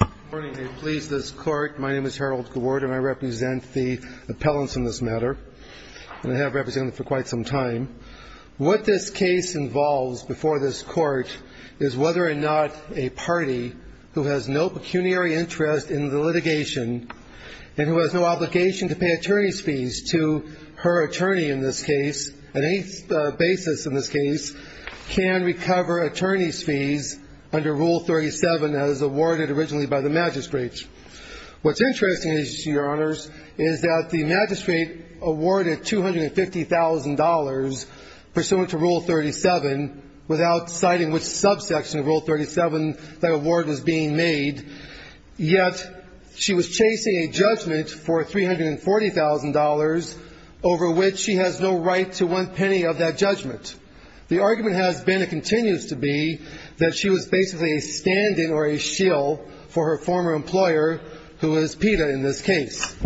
Good morning. I please this court. My name is Harold Gawort and I represent the appellants in this matter. And I have represented them for quite some time. What this case involves before this court is whether or not a party who has no pecuniary interest in the litigation and who has no obligation to pay attorney's fees to her attorney in this case, on any basis in this case, can recover attorney's fees under Rule 37 as awarded originally by the magistrate. What's interesting is, your honors, is that the magistrate awarded $250,000 pursuant to Rule 37 without citing which subsection of Rule 37 that award was being made, yet she was chasing a judgment for $340,000 over which she has no right to claim any money of that judgment. The argument has been and continues to be that she was basically a stand-in or a shill for her former employer who is PETA in this case.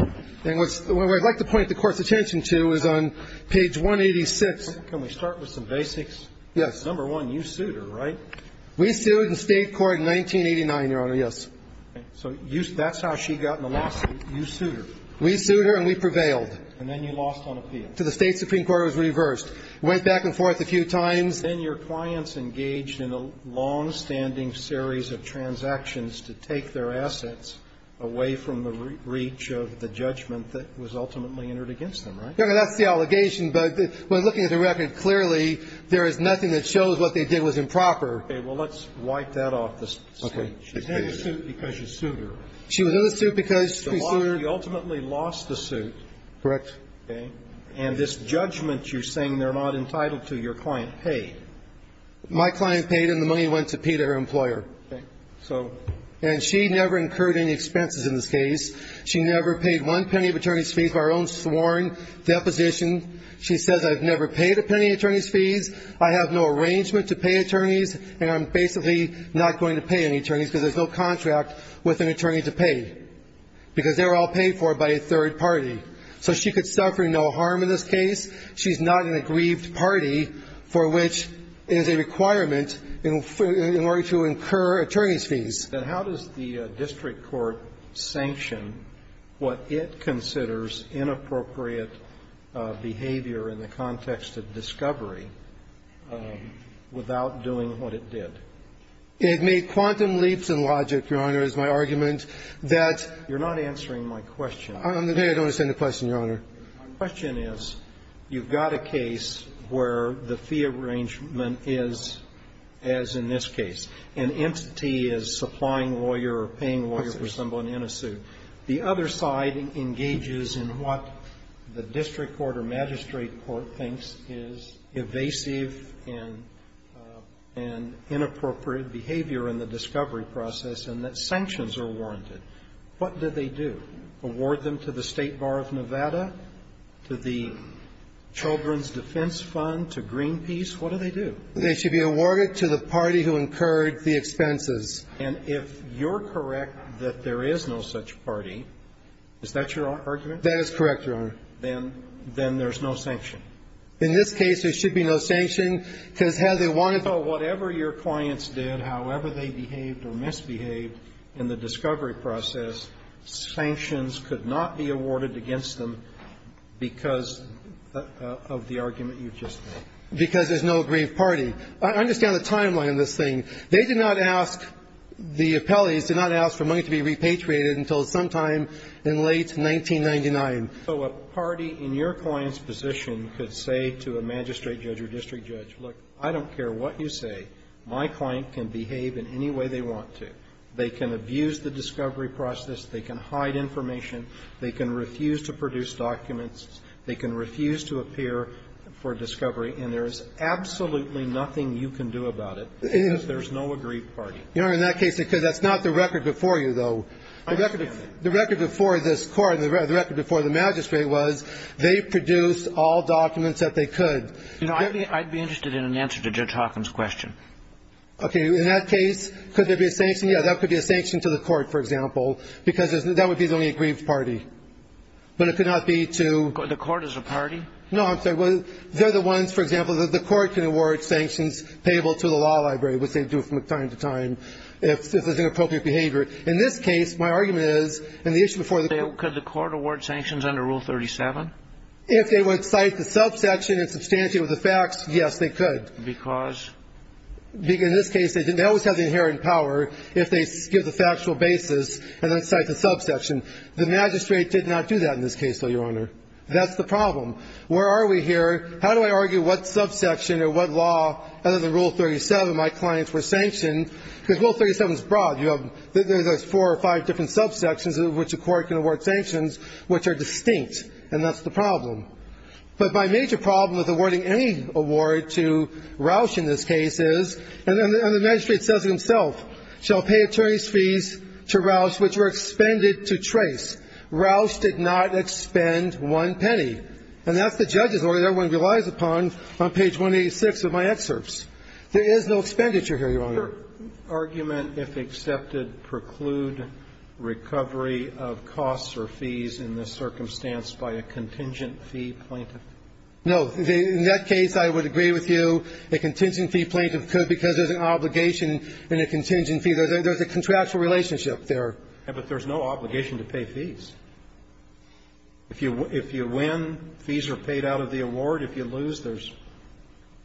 And what I'd like to point the Court's attention to is on page 186. Can we start with some basics? Yes. Number one, you sued her, right? We sued in State court in 1989, your honor, yes. So that's how she got in the lawsuit. You sued her. We sued her and we prevailed. And then you lost on appeal. To the State Supreme Court, it was reversed. Went back and forth a few times. Then your clients engaged in a longstanding series of transactions to take their assets away from the reach of the judgment that was ultimately entered against them, right? Your Honor, that's the allegation, but looking at the record, clearly, there is nothing that shows what they did was improper. Okay. Well, let's wipe that off the stage. She's in the suit because you sued her. She was in the suit because we sued her. You ultimately lost the suit. Correct. Okay. And this judgment you're saying they're not entitled to, your client paid. My client paid and the money went to Peter, her employer. Okay. So, and she never incurred any expenses in this case. She never paid one penny of attorney's fees for her own sworn deposition. She says, I've never paid a penny of attorney's fees. I have no arrangement to pay attorneys. And I'm basically not going to pay any attorneys because there's no contract with an attorney to pay because they're all paid for by a third party. So she could suffer no harm in this case. She's not in a grieved party for which it is a requirement in order to incur attorney's fees. And how does the district court sanction what it considers inappropriate behavior in the context of discovery without doing what it did? It made quantum leaps in logic, Your Honor, is my argument that you're not answering my question. I'm going to say I don't understand the question, Your Honor. My question is, you've got a case where the fee arrangement is as in this case. An entity is supplying a lawyer or paying a lawyer for someone in a suit. The other side engages in what the district court or magistrate court thinks is evasive and inappropriate behavior in the discovery process and that sanctions are warranted. What do they do? Award them to the State Bar of Nevada, to the Children's Defense Fund, to Greenpeace? What do they do? They should be awarded to the party who incurred the expenses. And if you're correct that there is no such party, is that your argument? That is correct, Your Honor. Then there's no sanction. In this case, there should be no sanction because they wanted to do whatever your clients did, however they behaved or misbehaved in the discovery process, sanctions could not be awarded against them because of the argument you've just made. Because there's no aggrieved party. I understand the timeline of this thing. They did not ask, the appellees did not ask for money to be repatriated until sometime in late 1999. So a party in your client's position could say to a magistrate judge or district judge, look, I don't care what you say. My client can behave in any way they want to. They can abuse the discovery process. They can hide information. They can refuse to produce documents. They can refuse to appear for discovery. And there is absolutely nothing you can do about it because there's no aggrieved party. Your Honor, in that case, because that's not the record before you, though. I understand. The record before this Court, the record before the magistrate was they produced all documents that they could. Your Honor, I'd be interested in an answer to Judge Hawkins' question. Okay, in that case, could there be a sanction? Yeah, that could be a sanction to the court, for example. Because that would be the only aggrieved party. But it could not be to- The court is a party? No, I'm sorry. They're the ones, for example, that the court can award sanctions payable to the law library, which they do from time to time if there's inappropriate behavior. In this case, my argument is, in the issue before the- Could the court award sanctions under Rule 37? If they would cite the subsection and substantiate with the facts, yes, they could. Because? Because in this case, they always have the inherent power if they give the factual basis and then cite the subsection. The magistrate did not do that in this case, though, Your Honor. That's the problem. Where are we here? How do I argue what subsection or what law, other than Rule 37, my clients were sanctioned, because Rule 37 is broad. There's four or five different subsections in which a court can award sanctions which are distinct, and that's the problem. But my major problem with awarding any award to Roush in this case is, and the magistrate says it himself, shall pay attorney's fees to Roush which were expended to trace. Roush did not expend one penny. And that's the judge's order that everyone relies upon on page 186 of my excerpts. There is no expenditure here, Your Honor. The argument, if accepted, preclude recovery of costs or fees in this circumstance by a contingent fee plaintiff. No. In that case, I would agree with you. A contingent fee plaintiff could because there's an obligation and a contingent fee. There's a contractual relationship there. But there's no obligation to pay fees. If you win, fees are paid out of the award. If you lose, there's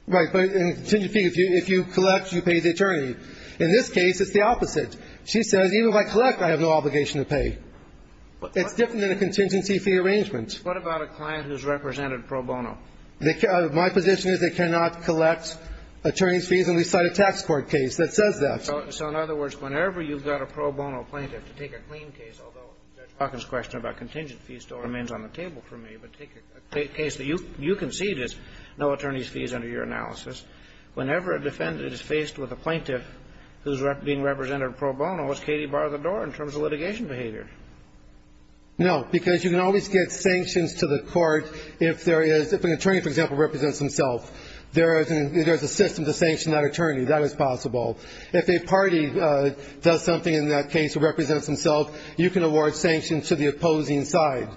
Right. But in contingent fee, if you collect, you pay the attorney. In this case, it's the opposite. She says even if I collect, I have no obligation to pay. It's different than a contingency fee arrangement. What about a client who's represented pro bono? My position is they cannot collect attorney's fees, and we cite a tax court case that says that. So in other words, whenever you've got a pro bono plaintiff to take a clean case, although Judge Hawkins' question about contingent fee still remains on the table for me, but take a case that you concede is no attorney's fees under your analysis, whenever a defendant is faced with a plaintiff who's being represented pro bono, it's Katie bar the door in terms of litigation behavior. No, because you can always get sanctions to the court if there is, if an attorney, for example, represents himself. There is a system to sanction that attorney. That is possible. If a party does something in that case, represents himself, you can award sanctions to the opposing side,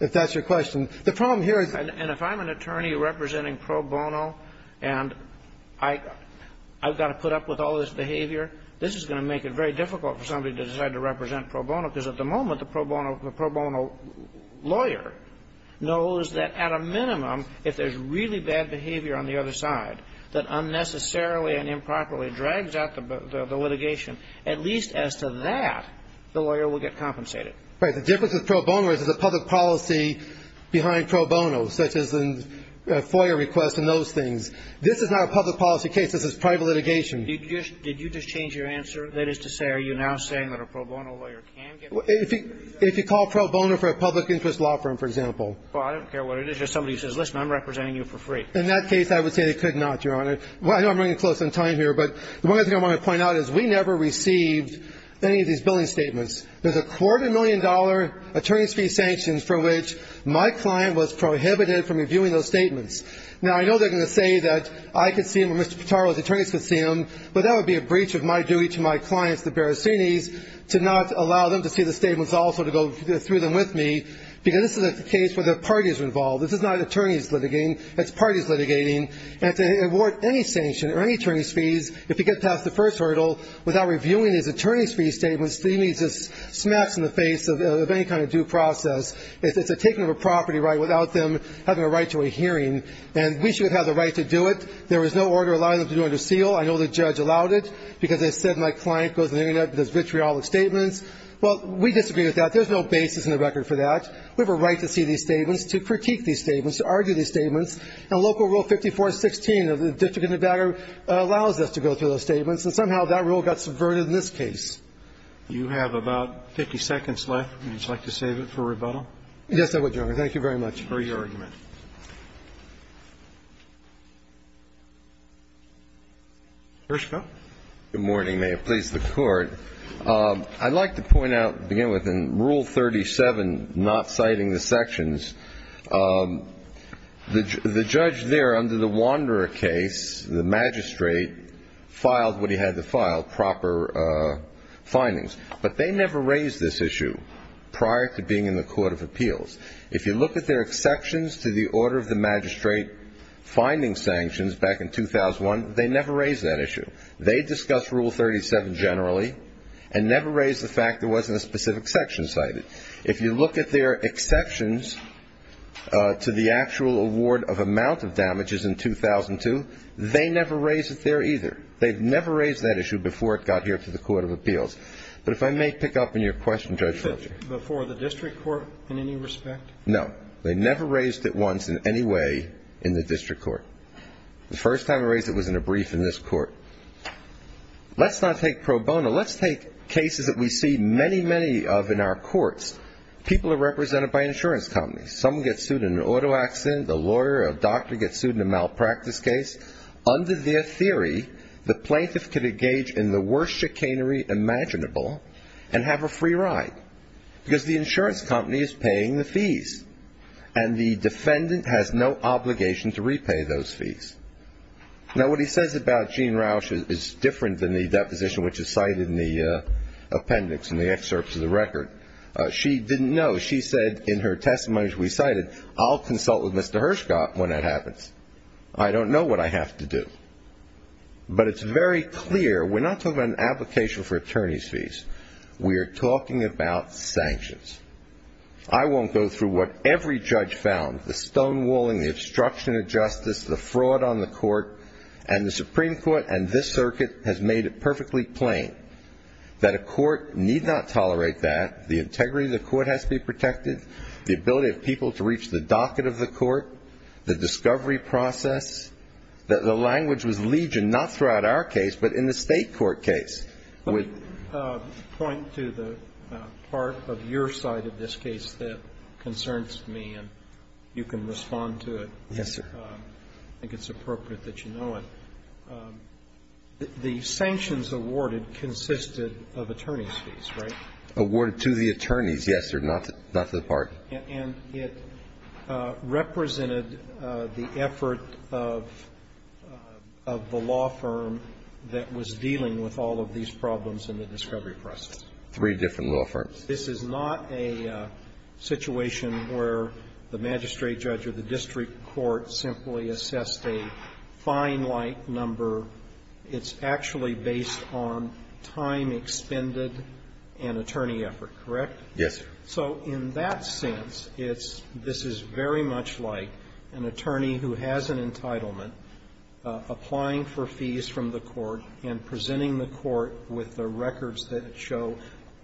if that's your question. The problem here is And if I'm an attorney representing pro bono and I've got to put up with all this behavior, this is going to make it very difficult for somebody to decide to represent pro bono, because at the moment, the pro bono lawyer knows that at a minimum, if there's really bad behavior on the other side that unnecessarily and improperly drags out the litigation, at least as to that, the lawyer will get compensated. Right. The difference with pro bono is it's a public policy behind pro bono, such as the FOIA request and those things. This is not a public policy case. This is private litigation. Did you just change your answer? That is to say, are you now saying that a pro bono lawyer can get compensated? If you call pro bono for a public interest law firm, for example. Well, I don't care what it is. Just somebody who says, listen, I'm representing you for free. In that case, I would say they could not, Your Honor. Well, I know I'm running close on time here, but the one other thing I want to point out is we never received any of these billing statements. There's a quarter million dollar attorney's fee sanctions for which my client was prohibited from reviewing those statements. Now, I know they're going to say that I could see them or Mr. Pitaro's attorneys could see them, but that would be a breach of my duty to my clients, the Barasini's, to not allow them to see the statements also to go through them with me, because this is a case where the parties are involved. This is not attorneys litigating. It's parties litigating. And to award any sanction or any attorney's fees, if you get past the first hurdle without reviewing these attorney's fee statements, to me, is just smacks in the face of any kind of due process. It's a taking of a property right without them having a right to a hearing. And we should have the right to do it. There was no order allowing them to do it under seal. I know the judge allowed it, because they said my client goes in there and does vitriolic statements. Well, we disagree with that. There's no basis in the record for that. We have a right to see these statements, to critique these statements, to argue these statements. And Local Rule 5416 of the District of Nevada allows us to go through those statements. And somehow that rule got subverted in this case. You have about 50 seconds left. Would you like to save it for rebuttal? Yes, I would, Your Honor. Thank you very much. For your argument. Gershko. Good morning, may it please the Court. I'd like to point out, to begin with, in Rule 37, not citing the sections, the judge there under the Wanderer case, the magistrate, filed what he had to file, proper findings. But they never raised this issue prior to being in the Court of Appeals. If you look at their exceptions to the order of the magistrate finding sanctions back in 2001, they never raised that issue. They discussed Rule 37 generally and never raised the fact there wasn't a specific section cited. If you look at their exceptions to the actual award of amount of damages in 2002, they never raised it there either. They never raised that issue before it got here to the Court of Appeals. But if I may pick up on your question, Judge Fletcher. Before the district court in any respect? No. They never raised it once in any way in the district court. The first time they raised it was in a brief in this court. Let's not take pro bono. Let's take cases that we see many, many of in our courts. People are represented by insurance companies. Someone gets sued in an auto accident. The lawyer or doctor gets sued in a malpractice case. Under their theory, the plaintiff can engage in the worst chicanery imaginable and have a free ride because the insurance company is paying the fees and the defendant has no obligation to repay those fees. Now, what he says about Gene Rauch is different than the deposition which is cited in the appendix in the excerpts of the record. She didn't know. She said in her testimony as we cited, I'll consult with Mr. Hershcott when that happens. I don't know what I have to do. But it's very clear. We're not talking about an application for attorney's fees. We are talking about sanctions. I won't go through what every judge found, the stonewalling, the obstruction of justice, the fraud on the court. And the Supreme Court and this circuit has made it perfectly plain that a court need not tolerate that, the integrity of the court has to be protected, the ability of people to reach the docket of the court, the discovery process. The language was legion, not throughout our case, but in the State court case. But I'd point to the part of your side of this case that concerns me and you can respond to it. Yes, sir. I think it's appropriate that you know it. The sanctions awarded consisted of attorney's fees, right? Awarded to the attorneys, yes, sir, not to the parties. And it represented the effort of the law firm that was dealing with all of these problems in the discovery process. Three different law firms. This is not a situation where the magistrate judge or the district court simply assessed a fine-like number. It's actually based on time expended and attorney effort, correct? Yes, sir. So in that sense, it's this is very much like an attorney who has an entitlement applying for fees from the court and presenting the court with the records that show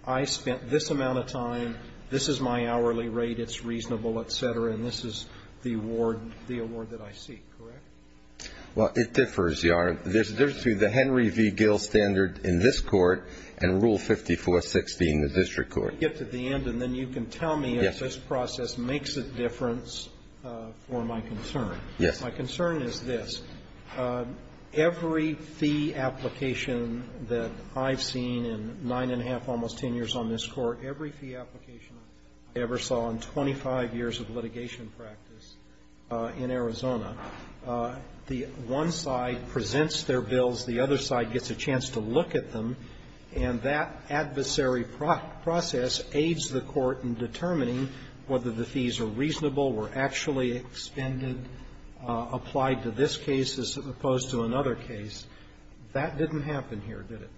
I spent this amount of time, this is my hourly rate, it's reasonable, et cetera, and this is the award that I seek, correct? Well, it differs, Your Honor. There's a difference between the Henry v. Gill standard in this court and Rule 5416 in the district court. Let me get to the end and then you can tell me if this process makes a difference for my concern. Yes. My concern is this. Every fee application that I've seen in nine and a half, almost ten years on this court, every fee application I ever saw in 25 years of litigation practice in Arizona, the one side presents their bills, the other side gets a chance to look at them, and that adversary process aids the court in determining whether the fees are reasonable, were actually expended, applied to this case as opposed to another case. That didn't happen here, did it?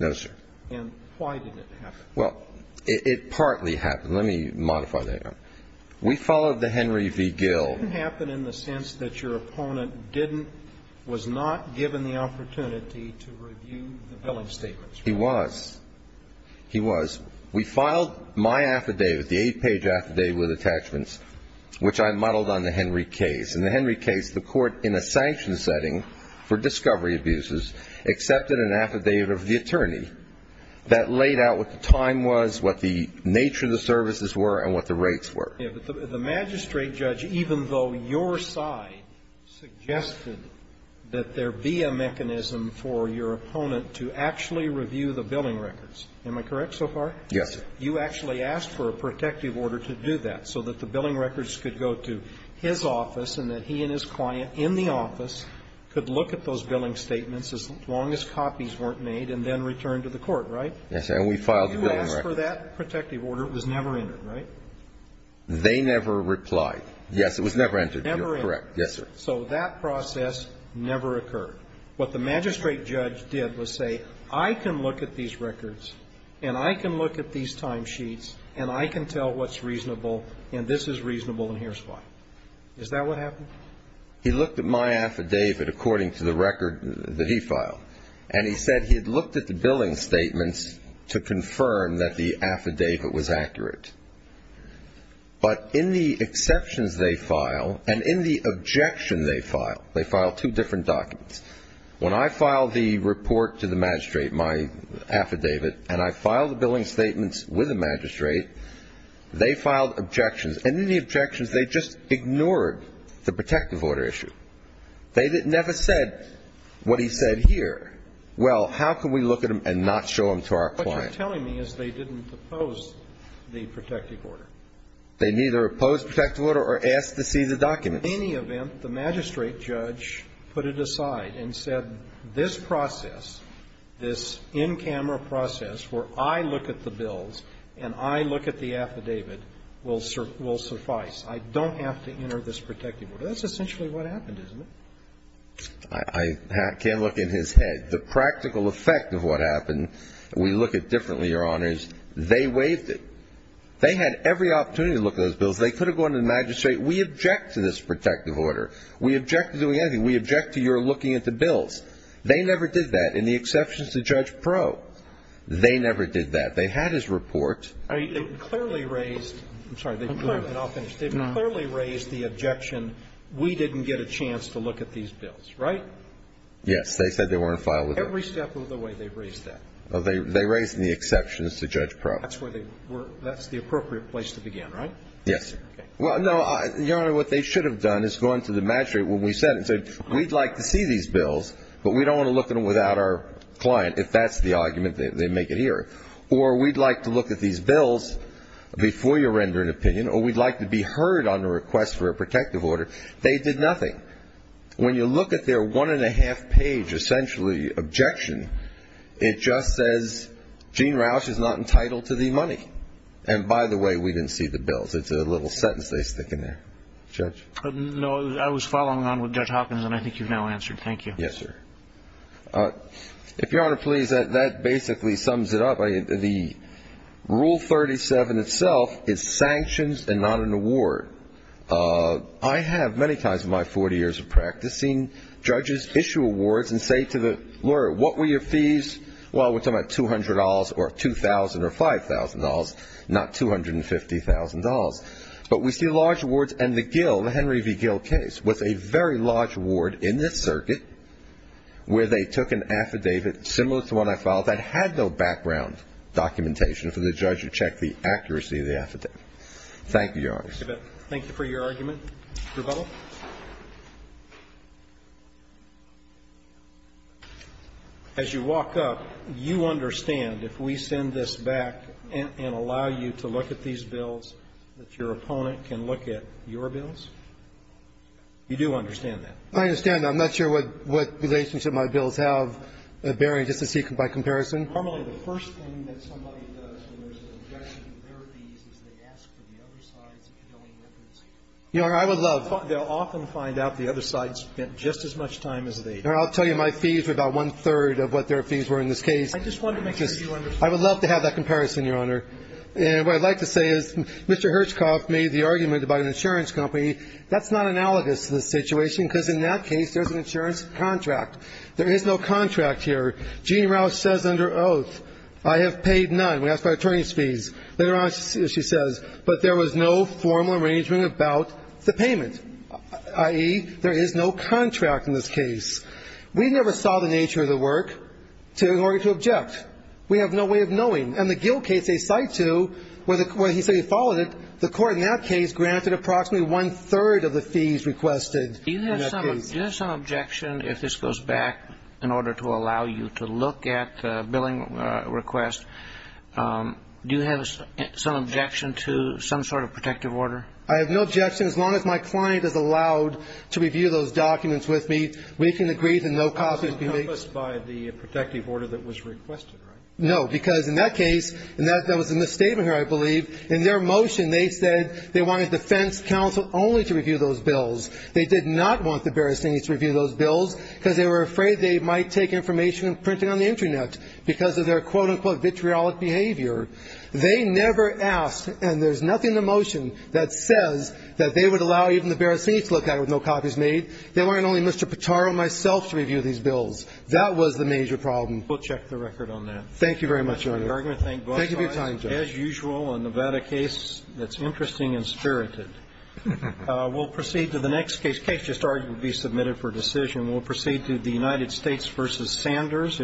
No, sir. And why didn't it happen? Well, it partly happened. Let me modify that. We followed the Henry v. Gill. It didn't happen in the sense that your opponent didn't, was not given the opportunity to review the billing statements. He was. He was. We filed my affidavit, the eight-page affidavit with attachments, which I modeled on the Henry case. In the Henry case, the court, in a sanctioned setting for discovery abuses, accepted an affidavit of the attorney that laid out what the time was, what the nature of the services were, and what the rates were. Yes, but the magistrate judge, even though your side suggested that there be a mechanism for your opponent to actually review the billing records, am I correct so far? Yes, sir. You actually asked for a protective order to do that, so that the billing records could go to his office and that he and his client in the office could look at those billing statements as long as copies weren't made and then return to the court, right? Yes, sir. And we filed the billing record. You asked for that protective order. It was never entered, right? They never replied. Yes, it was never entered. Never entered. You're correct. Yes, sir. So that process never occurred. What the magistrate judge did was say, I can look at these records, and I can look at these timesheets, and I can tell what's reasonable, and this is reasonable, and here's why. Is that what happened? He looked at my affidavit according to the record that he filed. And he said he had looked at the billing statements to confirm that the affidavit was accurate. But in the exceptions they file, and in the objection they file, they file two different documents. When I filed the report to the magistrate, my affidavit, and I filed the billing statements with the magistrate, they filed objections. And in the objections, they just ignored the protective order issue. They never said what he said here. Well, how can we look at them and not show them to our client? What you're telling me is they didn't oppose the protective order. They neither opposed the protective order or asked to see the documents. In any event, the magistrate judge put it aside and said, this process, this in-camera process, where I look at the bills and I look at the affidavit, will suffice. I don't have to enter this protective order. That's essentially what happened, isn't it? I can't look in his head. The practical effect of what happened, we look at differently, Your Honors. They waived it. They had every opportunity to look at those bills. They could have gone to the magistrate. We object to this protective order. We object to doing anything. We object to your looking at the bills. They never did that, in the exceptions to Judge Pro. They never did that. They had his report. I mean, it clearly raised the objection, we didn't get a chance to look at these bills, right? Yes. They said they weren't filed with us. Every step of the way, they raised that. They raised it in the exceptions to Judge Pro. That's where they were. That's the appropriate place to begin, right? Yes. Well, no, Your Honor, what they should have done is gone to the magistrate when we sent it and said, we'd like to see these bills, but we don't want to look at them without our client, if that's the argument they make it here. Or we'd like to look at these bills before you render an opinion. Or we'd like to be heard on the request for a protective order. They did nothing. When you look at their one and a half page, essentially, objection, it just says, Gene Roush is not entitled to the money. And by the way, we didn't see the bills. It's a little sentence they stick in there. Judge? No, I was following on with Judge Hopkins, and I think you've now answered. Thank you. Yes, sir. If Your Honor please, that basically sums it up. The Rule 37 itself is sanctions and not an award. I have, many times in my 40 years of practicing, judges issue awards and say to the lawyer, what were your fees? Well, we're talking about $200 or $2,000 or $5,000, not $250,000. But we see large awards, and the Gill, the Henry v. Gill case, was a very large award in this circuit where they took an affidavit similar to one I filed that had no background documentation for the judge to check the accuracy of the affidavit. Thank you, Your Honor. Thank you for your argument. Rebuttal? As you walk up, you understand, if we send this back and allow you to look at these bills, that your opponent can look at your bills? You do understand that? I understand. I'm not sure what relationship my bills have, Barry, just to see by comparison. Normally, the first thing that somebody does when there's an objection to their fees is they ask for the other side's billing records. And they'll often find out the other side spent just as much time as they did. I'll tell you, my fees were about one-third of what their fees were in this case. I just wanted to make sure you understood. I would love to have that comparison, Your Honor. And what I'd like to say is Mr. Hershkoff made the argument about an insurance company. That's not analogous to the situation, because in that case, there's an insurance contract. There is no contract here. Jeanne Roush says under oath, I have paid none. We asked for our attorney's fees. Later on, she says, but there was no formal arrangement about the payment. I.e., there is no contract in this case. We never saw the nature of the work in order to object. We have no way of knowing. And the Gill case, they cite to, where he said he followed it, the court in that case granted approximately one-third of the fees requested in that case. Do you have some objection, if this goes back in order to allow you to look at the billing request, do you have some objection to some sort of protective order? I have no objection, as long as my client is allowed to review those documents with me. We can agree that no copies be made. It wasn't encompassed by the protective order that was requested, right? No, because in that case, and that was in the statement here, I believe, in their motion, they said they wanted defense counsel only to review those bills. They did not want the Barasini's to review those bills, because they were afraid they might take information and print it on the internet, because of their, quote unquote, vitriolic behavior. They never asked, and there's nothing in the motion that says that they would allow even the Barasini's to look at it with no copies made. They wanted only Mr. Pitaro and myself to review these bills. That was the major problem. We'll check the record on that. Thank you very much, Your Honor. Thank you for your time, Judge. As usual, a Nevada case that's interesting and spirited. We'll proceed to the next case. Case just already submitted for decision. We'll proceed to the United States v. Sanders.